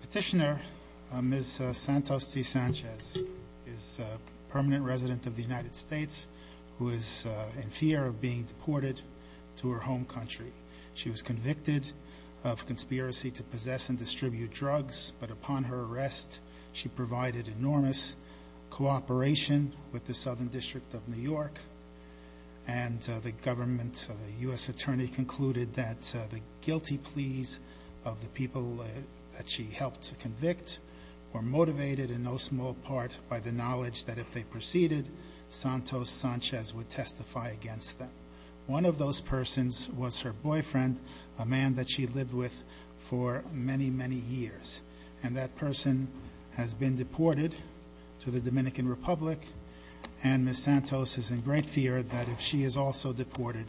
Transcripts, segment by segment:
Petitioner Ms. Santos De Sanchez is a permanent resident of the United States who is in fear of being deported to her home country. She was convicted of conspiracy to possess and distribute drugs but upon her arrest she provided enormous cooperation with the Southern District of New York and the government so the U.S. attorney concluded that the guilty pleas of the people that she helped to convict were motivated in no small part by the knowledge that if they proceeded Santos Sanchez would testify against them. One of those persons was her boyfriend a man that she lived with for many many years and that person has been deported to the Dominican Republic and Ms. Santos is in great fear that if she is also deported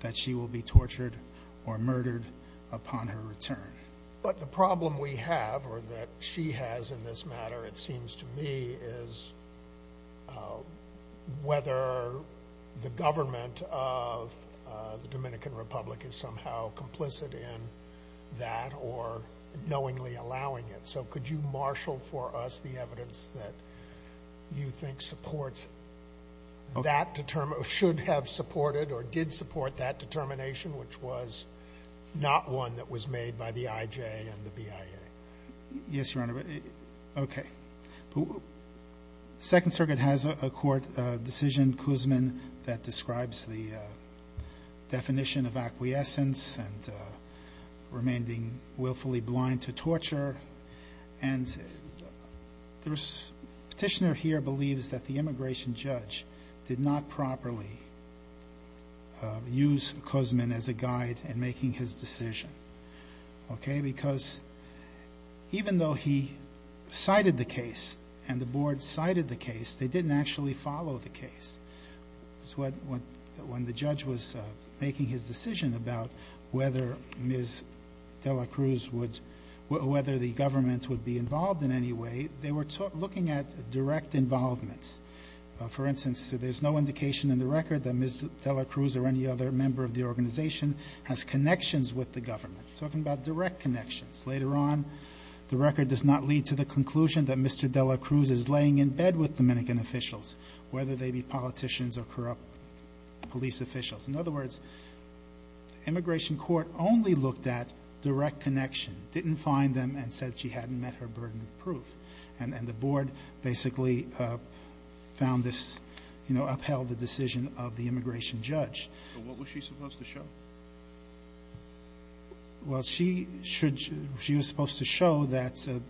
that she will be tortured or murdered upon her return. But the problem we have or that she has in this matter it seems to me is whether the government of the Dominican Republic is somehow complicit in that or knowingly allowing it so could you marshal for us the evidence that you should have supported or did support that determination which was not one that was made by the IJ and the BIA. Yes your honor okay. The Second Circuit has a court decision Kuzmin that describes the definition of acquiescence and remaining willfully blind to torture and the petitioner here believes that the court should not improperly use Kuzmin as a guide in making his decision okay because even though he cited the case and the board cited the case they didn't actually follow the case. When the judge was making his decision about whether Ms. de la Cruz would whether the government would be involved in any way they were looking at direct involvement. For instance there's no indication in the record that Ms. de la Cruz or any other member of the organization has connections with the government talking about direct connections. Later on the record does not lead to the conclusion that Mr. de la Cruz is laying in bed with Dominican officials whether they be politicians or corrupt police officials. In other words immigration court only looked at direct connection didn't find them and said she hadn't met her burden of proof and the board basically found this you know upheld the decision of the immigration judge. So what was she supposed to show? Well she should she was supposed to show that the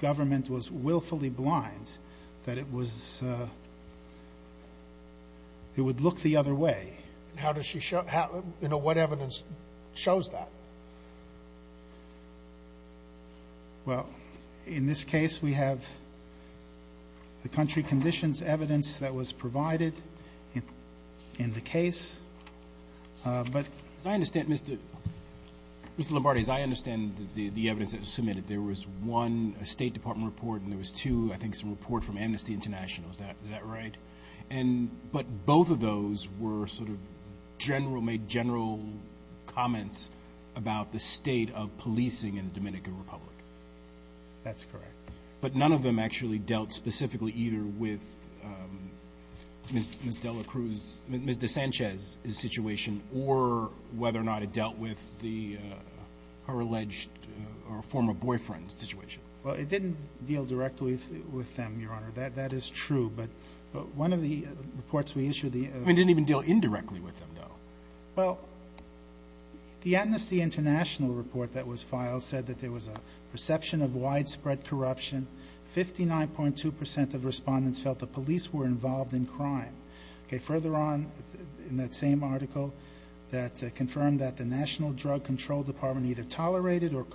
government was willfully blind that it was it would look the other way. How does she show you know what evidence shows that? Well in this case we have the country conditions evidence that was provided in the case but I understand Mr. Mr. Lombardi as I understand the evidence that was submitted there was one a State Department report and there was two I think some report from Amnesty International is that is that right? And but both of those were sort of general made general comments about the state of policing in the Dominican Republic. That's correct. But none of them actually dealt specifically either with Ms. de la Cruz Ms. de Sanchez's situation or whether or not it dealt with the her alleged or former boyfriend's situation. Well it didn't deal directly with them your honor that that is true but one of the reports we issued the I mean didn't even deal indirectly with them though. Well the Amnesty International report that was filed said that there was a perception of widespread corruption. 59.2% of respondents felt the police were involved in crime. Okay further on in that same article that confirmed that the National Drug Control Department either tolerated or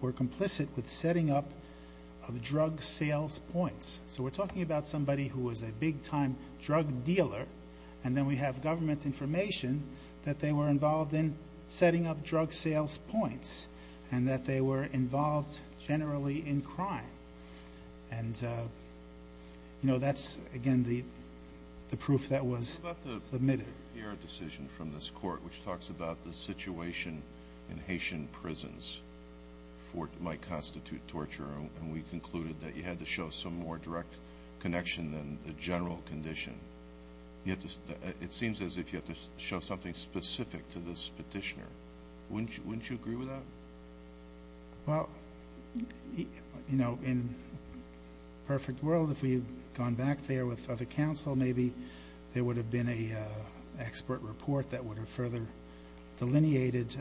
were complicit with setting up of drug sales points. So we're talking about somebody who was a big-time drug dealer and then we have government information that they were involved in setting up drug sales points. And that they were involved generally in crime. And you know that's again the the proof that was submitted. The decision from this court which talks about the situation in Haitian prisons for what might constitute torture and we concluded that you had to show some more direct connection than the general condition. Yet it seems as if you have to show something specific to this petitioner. Wouldn't you agree with that? Well you know in perfect world if we had gone back there with other counsel maybe there would have been a expert report that would have further delineated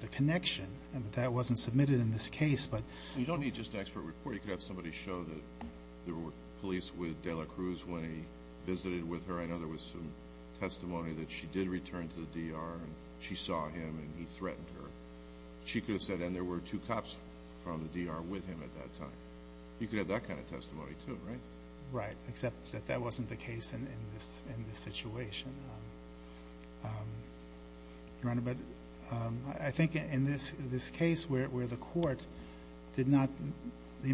the connection and that wasn't submitted in this case. But you don't need just expert report you could have somebody show that there were police with Dela Cruz when he visited with her. I know there was some return to the D.R. and she saw him and he threatened her. She could have said and there were two cops from the D.R. with him at that time. You could have that kind of testimony too, right? Right, except that that wasn't the case in this in this situation. Your Honor, but I think in this this case where the court did not the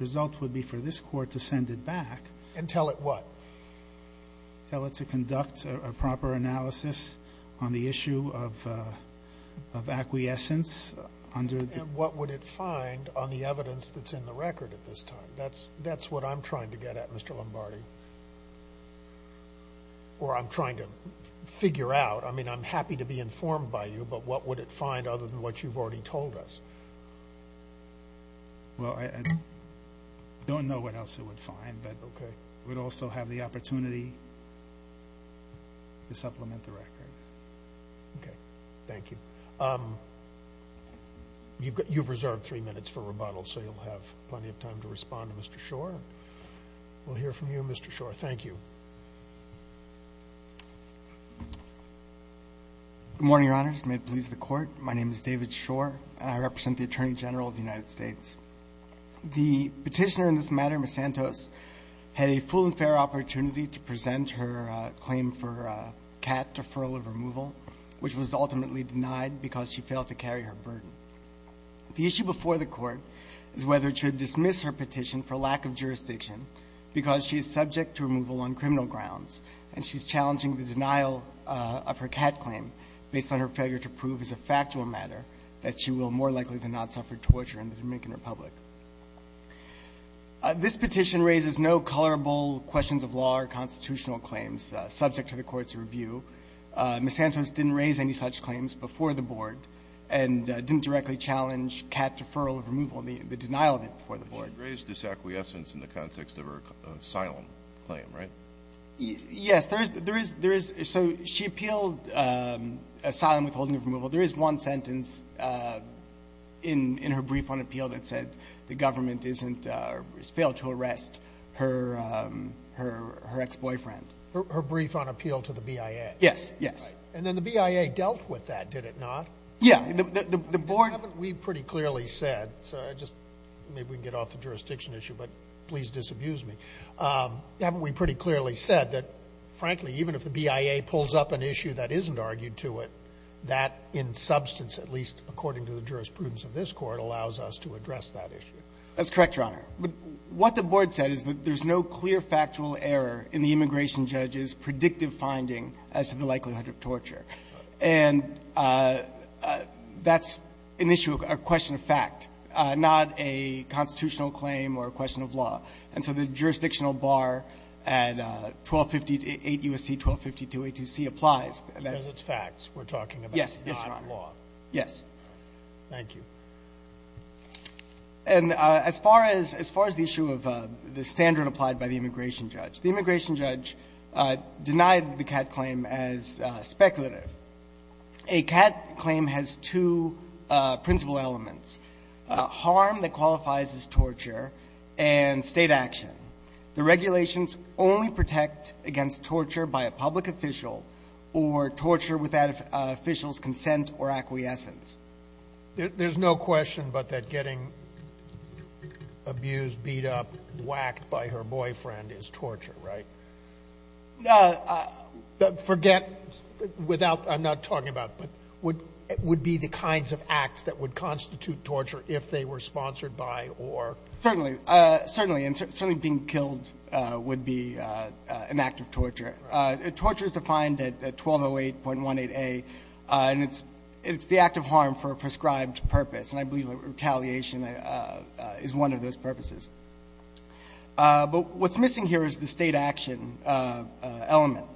result would be for this court to send it back. And tell it what? Tell it to conduct a proper analysis on the issue of acquiescence under. And what would it find on the evidence that's in the record at this time? That's that's what I'm trying to get at Mr. Lombardi. Or I'm trying to figure out. I mean I'm happy to be informed by you but what would it find other than what you've already told us? Well, I don't know what else it would find. But okay. We'd also have the opportunity to supplement the record. Okay. Thank you. You've got you've reserved three minutes for rebuttal so you'll have plenty of time to respond to Mr. Schor. We'll hear from you Mr. Schor. Thank you. Good morning, Your Honors. May it please the Court. My name is David Schor and I represent the Attorney General of the United States. The Petitioner in this matter, Ms. Santos, had a full and fair opportunity to present her claim for a cat deferral of removal, which was ultimately denied because she failed to carry her burden. The issue before the Court is whether it should dismiss her petition for lack of jurisdiction because she is subject to removal on criminal grounds and she's challenging the denial of her cat claim based on her failure to prove as a factual matter that she will more likely than not suffer torture in the Dominican Republic. This petition raises no colorable questions of law or constitutional claims subject to the Court's review. Ms. Santos didn't raise any such claims before the Board and didn't directly challenge cat deferral of removal and the denial of it before the Board. She raised this acquiescence in the context of her asylum claim, right? Yes. There is, there is, so she appealed asylum withholding of removal. There is one sentence in, in her brief on appeal that said the government isn't, failed to arrest her, her, her ex-boyfriend. Her, her brief on appeal to the BIA. Yes, yes. And then the BIA dealt with that, did it not? Yeah. The, the, the Board haven't we pretty clearly said, so I just, maybe we can get off the jurisdiction issue, but please disabuse me. Haven't we pretty clearly said that, frankly, even if the BIA pulls up an issue that isn't argued to it, that in substance, at least according to the jurisprudence of this Court, allows us to address that issue? That's correct, Your Honor. But what the Board said is that there's no clear factual error in the immigration judge's predictive finding as to the likelihood of torture. And that's an issue, a question of fact, not a constitutional claim or a question of law. And so the jurisdictional bar at 1258 U.S.C. 1252A2C applies. Because it's facts we're talking about, not law. Yes. Yes, Your Honor. Yes. Thank you. And as far as, as far as the issue of the standard applied by the immigration judge, denied the Catt claim as speculative. A Catt claim has two principal elements, harm that qualifies as torture and State action. The regulations only protect against torture by a public official or torture without an official's consent or acquiescence. There's no question but that getting abused, beat up, whacked by her boyfriend is torture, right? Forget without, I'm not talking about, but would be the kinds of acts that would constitute torture if they were sponsored by or. Certainly. Certainly. And certainly being killed would be an act of torture. Torture is defined at 1208.18A, and it's the act of harm for a prescribed purpose. And I believe retaliation is one of those purposes. But what's missing here is the State action element.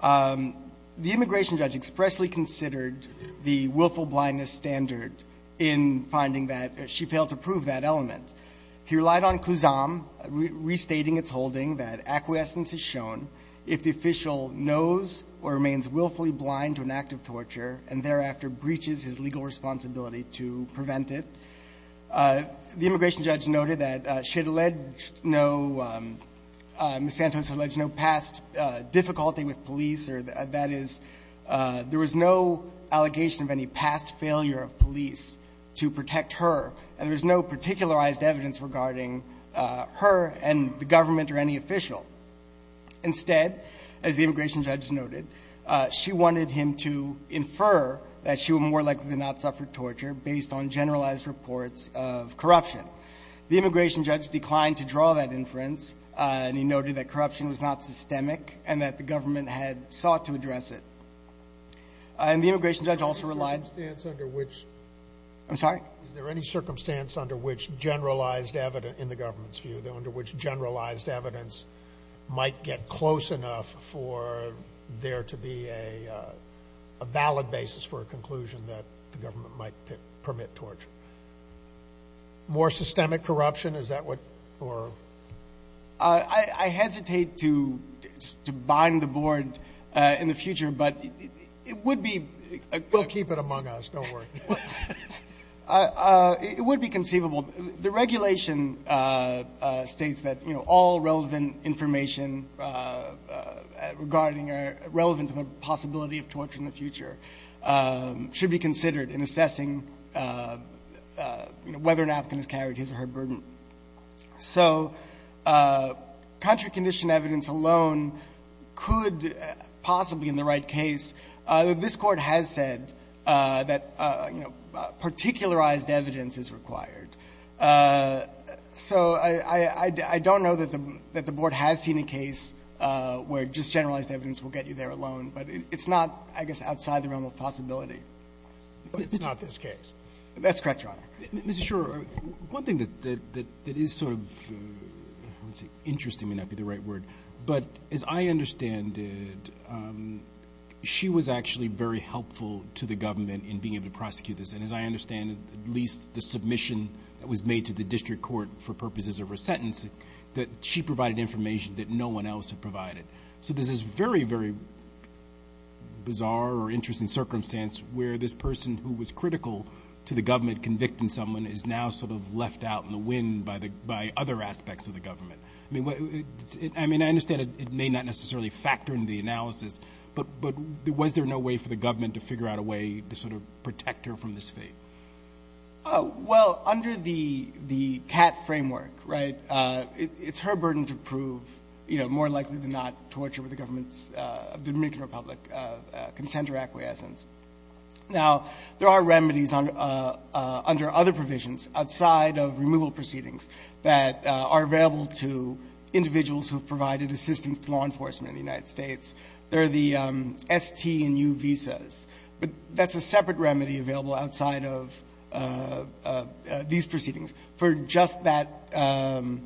The immigration judge expressly considered the willful blindness standard in finding that she failed to prove that element. He relied on Kuzam restating its holding that acquiescence is shown if the official knows or remains willfully blind to an act of torture and thereafter breaches his legal responsibility to prevent it. The immigration judge noted that she had alleged no, Ms. Santos had alleged no past difficulty with police, or that is, there was no allegation of any past failure of police to protect her, and there was no particularized evidence regarding her and the government or any official. Instead, as the immigration judge noted, she wanted him to infer that she would more likely than not suffer torture based on generalized reports of corruption. The immigration judge declined to draw that inference, and he noted that corruption was not systemic and that the government had sought to address it. And the immigration judge also relied — Sotomayor, is there any circumstance under which — I'm sorry? Is there any circumstance under which generalized evidence in the government's view, under which generalized evidence might get close enough for there to be a valid basis for a conclusion that the government might permit torture? More systemic corruption, is that what — or — I hesitate to bind the board in the future, but it would be — We'll keep it among us. Don't worry. It would be conceivable. The regulation states that, you know, all relevant information regarding a — relevant to the possibility of torture in the future should be considered in assessing, you know, whether an African has carried his or her burden. So contrary condition evidence alone could possibly, in the right case — this Court has said that, you know, particularized evidence is required. So I don't know that the board has seen a case where just generalized evidence will get you there alone, but it's not, I guess, outside the realm of possibility. But it's not this case. That's correct, Your Honor. Mr. Schor, one thing that is sort of interesting may not be the right word, but as I understand it, she was actually very helpful to the government in being able to prosecute this. And as I understand it, at least the submission that was made to the district court for purposes of her sentence, that she provided information that no one else had provided. So there's this very, very bizarre or interesting circumstance where this person who was critical to the government convicting someone is now sort of left out in the wind by the — by other aspects of the government. I mean, what — I mean, I understand it may not necessarily factor into the analysis, but was there no way for the government to figure out a way to sort of protect her from this fate? Well, under the CAT framework, right, it's her burden to prove, you know, more likely than not, torture with the government's — of the Dominican Republic, consent or acquiescence. Now, there are remedies under other provisions outside of removal proceedings that are available to individuals who have provided assistance to law enforcement in the United States. There are the ST and U visas. But that's a separate remedy available outside of these proceedings for just that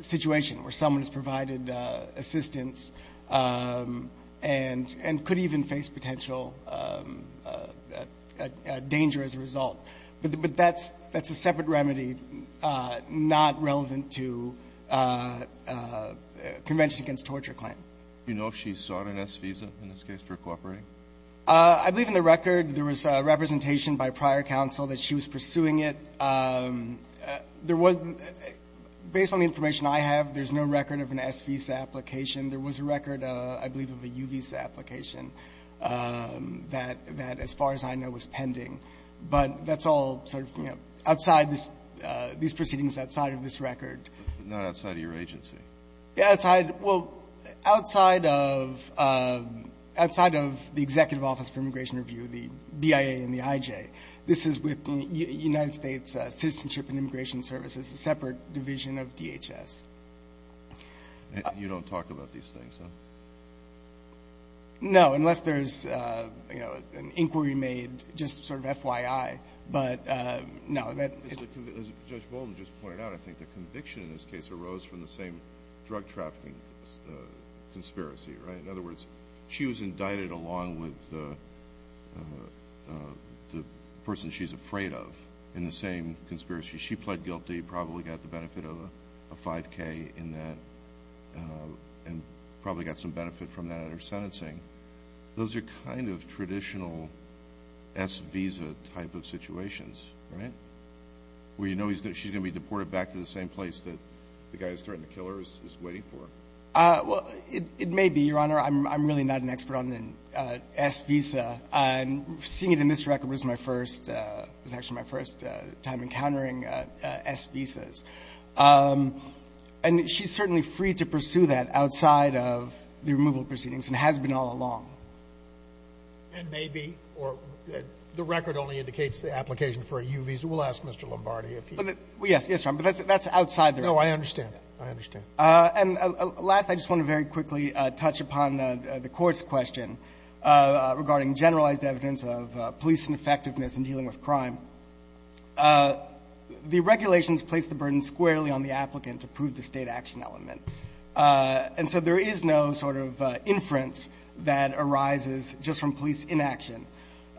situation where someone has provided assistance and could even face potential danger as a result. But that's a separate remedy not relevant to Convention Against Torture claim. Do you know if she sought an S visa in this case for cooperating? I believe in the record there was representation by prior counsel that she was pursuing it. There was — based on the information I have, there's no record of an S visa application. There was a record, I believe, of a U visa application that, as far as I know, was pending. But that's all sort of, you know, outside this — these proceedings outside of this record. Not outside of your agency. Outside — well, outside of — outside of the Executive Office for Immigration Review, the BIA and the IJ, this is with the United States Citizenship and Immigration Services, a separate division of DHS. You don't talk about these things, huh? No, unless there's, you know, an inquiry made just sort of FYI. But no, that — As Judge Bolden just pointed out, I think the conviction in this case arose from the same drug trafficking conspiracy, right? In other words, she was indicted along with the person she's afraid of in the same conspiracy. She pled guilty, probably got the benefit of a 5K in that, and probably got some benefit from that in her sentencing. Those are kind of traditional S visa type of situations, right? Where you know she's going to be deported back to the same place that the guy who's threatening to kill her is waiting for. Well, it may be, Your Honor. I'm really not an expert on an S visa. And seeing it in this record was my first — it was actually my first time encountering S visas. And she's certainly free to pursue that outside of the removal proceedings and has been all along. And maybe — or the record only indicates the application for a U visa. We'll ask Mr. Lombardi if he — Well, yes. Yes, Your Honor. But that's outside the — No, I understand. I understand. And last, I just want to very quickly touch upon the Court's question regarding generalized evidence of police ineffectiveness in dealing with crime. The regulations place the burden squarely on the applicant to prove the State action element. And so there is no sort of inference that arises just from police inaction.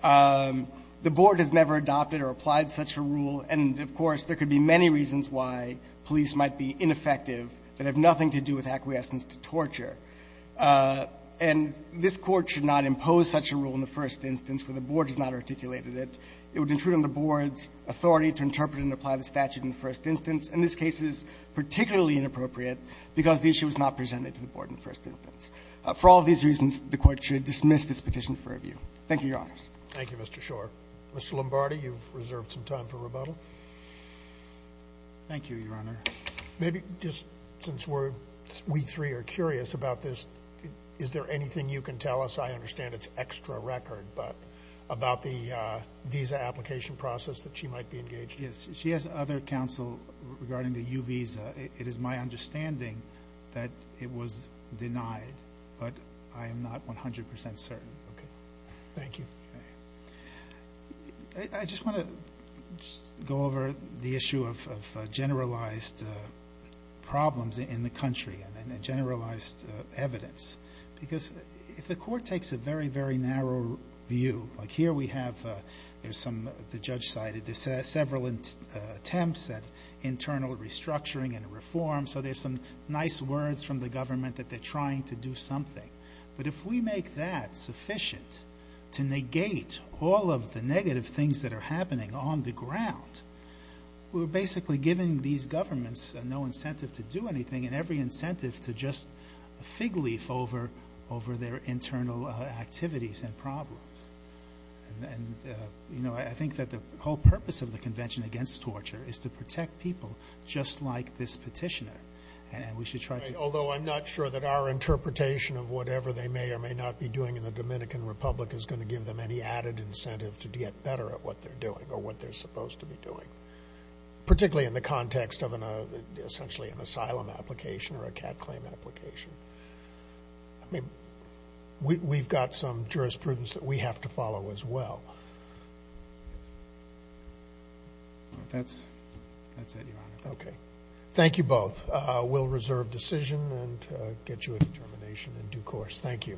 The Board has never adopted or applied such a rule, and, of course, there could be many reasons why police might be ineffective that have nothing to do with acquiescence to torture. And this Court should not impose such a rule in the first instance where the Board has not articulated it. It would intrude on the Board's authority to interpret and apply the statute in the first instance. And this case is particularly inappropriate because the issue was not presented to the Board in the first instance. For all of these reasons, the Court should dismiss this petition for review. Thank you, Your Honors. Thank you, Mr. Schor. Mr. Lombardi, you've reserved some time for rebuttal. Thank you, Your Honor. Maybe just since we three are curious about this, is there anything you can tell us? I understand it's extra record, but about the visa application process that she might be engaged in. She has other counsel regarding the U visa. It is my understanding that it was denied, but I am not 100 percent certain. Thank you. I just want to go over the issue of generalized problems in the country and generalized evidence. Because if the Court takes a very, very narrow view, like here we have, there's some, the judge cited several attempts at internal restructuring and reform. So there's some nice words from the government that they're trying to do something. But if we make that sufficient to negate all of the negative things that are happening on the ground, we're basically giving these governments no incentive to do anything and every incentive to just fig leaf over their internal activities and problems. And, you know, I think that the whole purpose of the Convention Against Torture is to protect people just like this petitioner. Although I'm not sure that our interpretation of whatever they may or may not be doing in the Dominican Republic is going to give them any added incentive to get better at what they're doing or what they're supposed to be doing, particularly in the context of an essentially an asylum application or a cat claim application. I mean, we've got some jurisprudence that we have to follow as well. That's it, Your Honor. Okay. Thank you both. We'll reserve decision and get you a determination in due course. Thank you.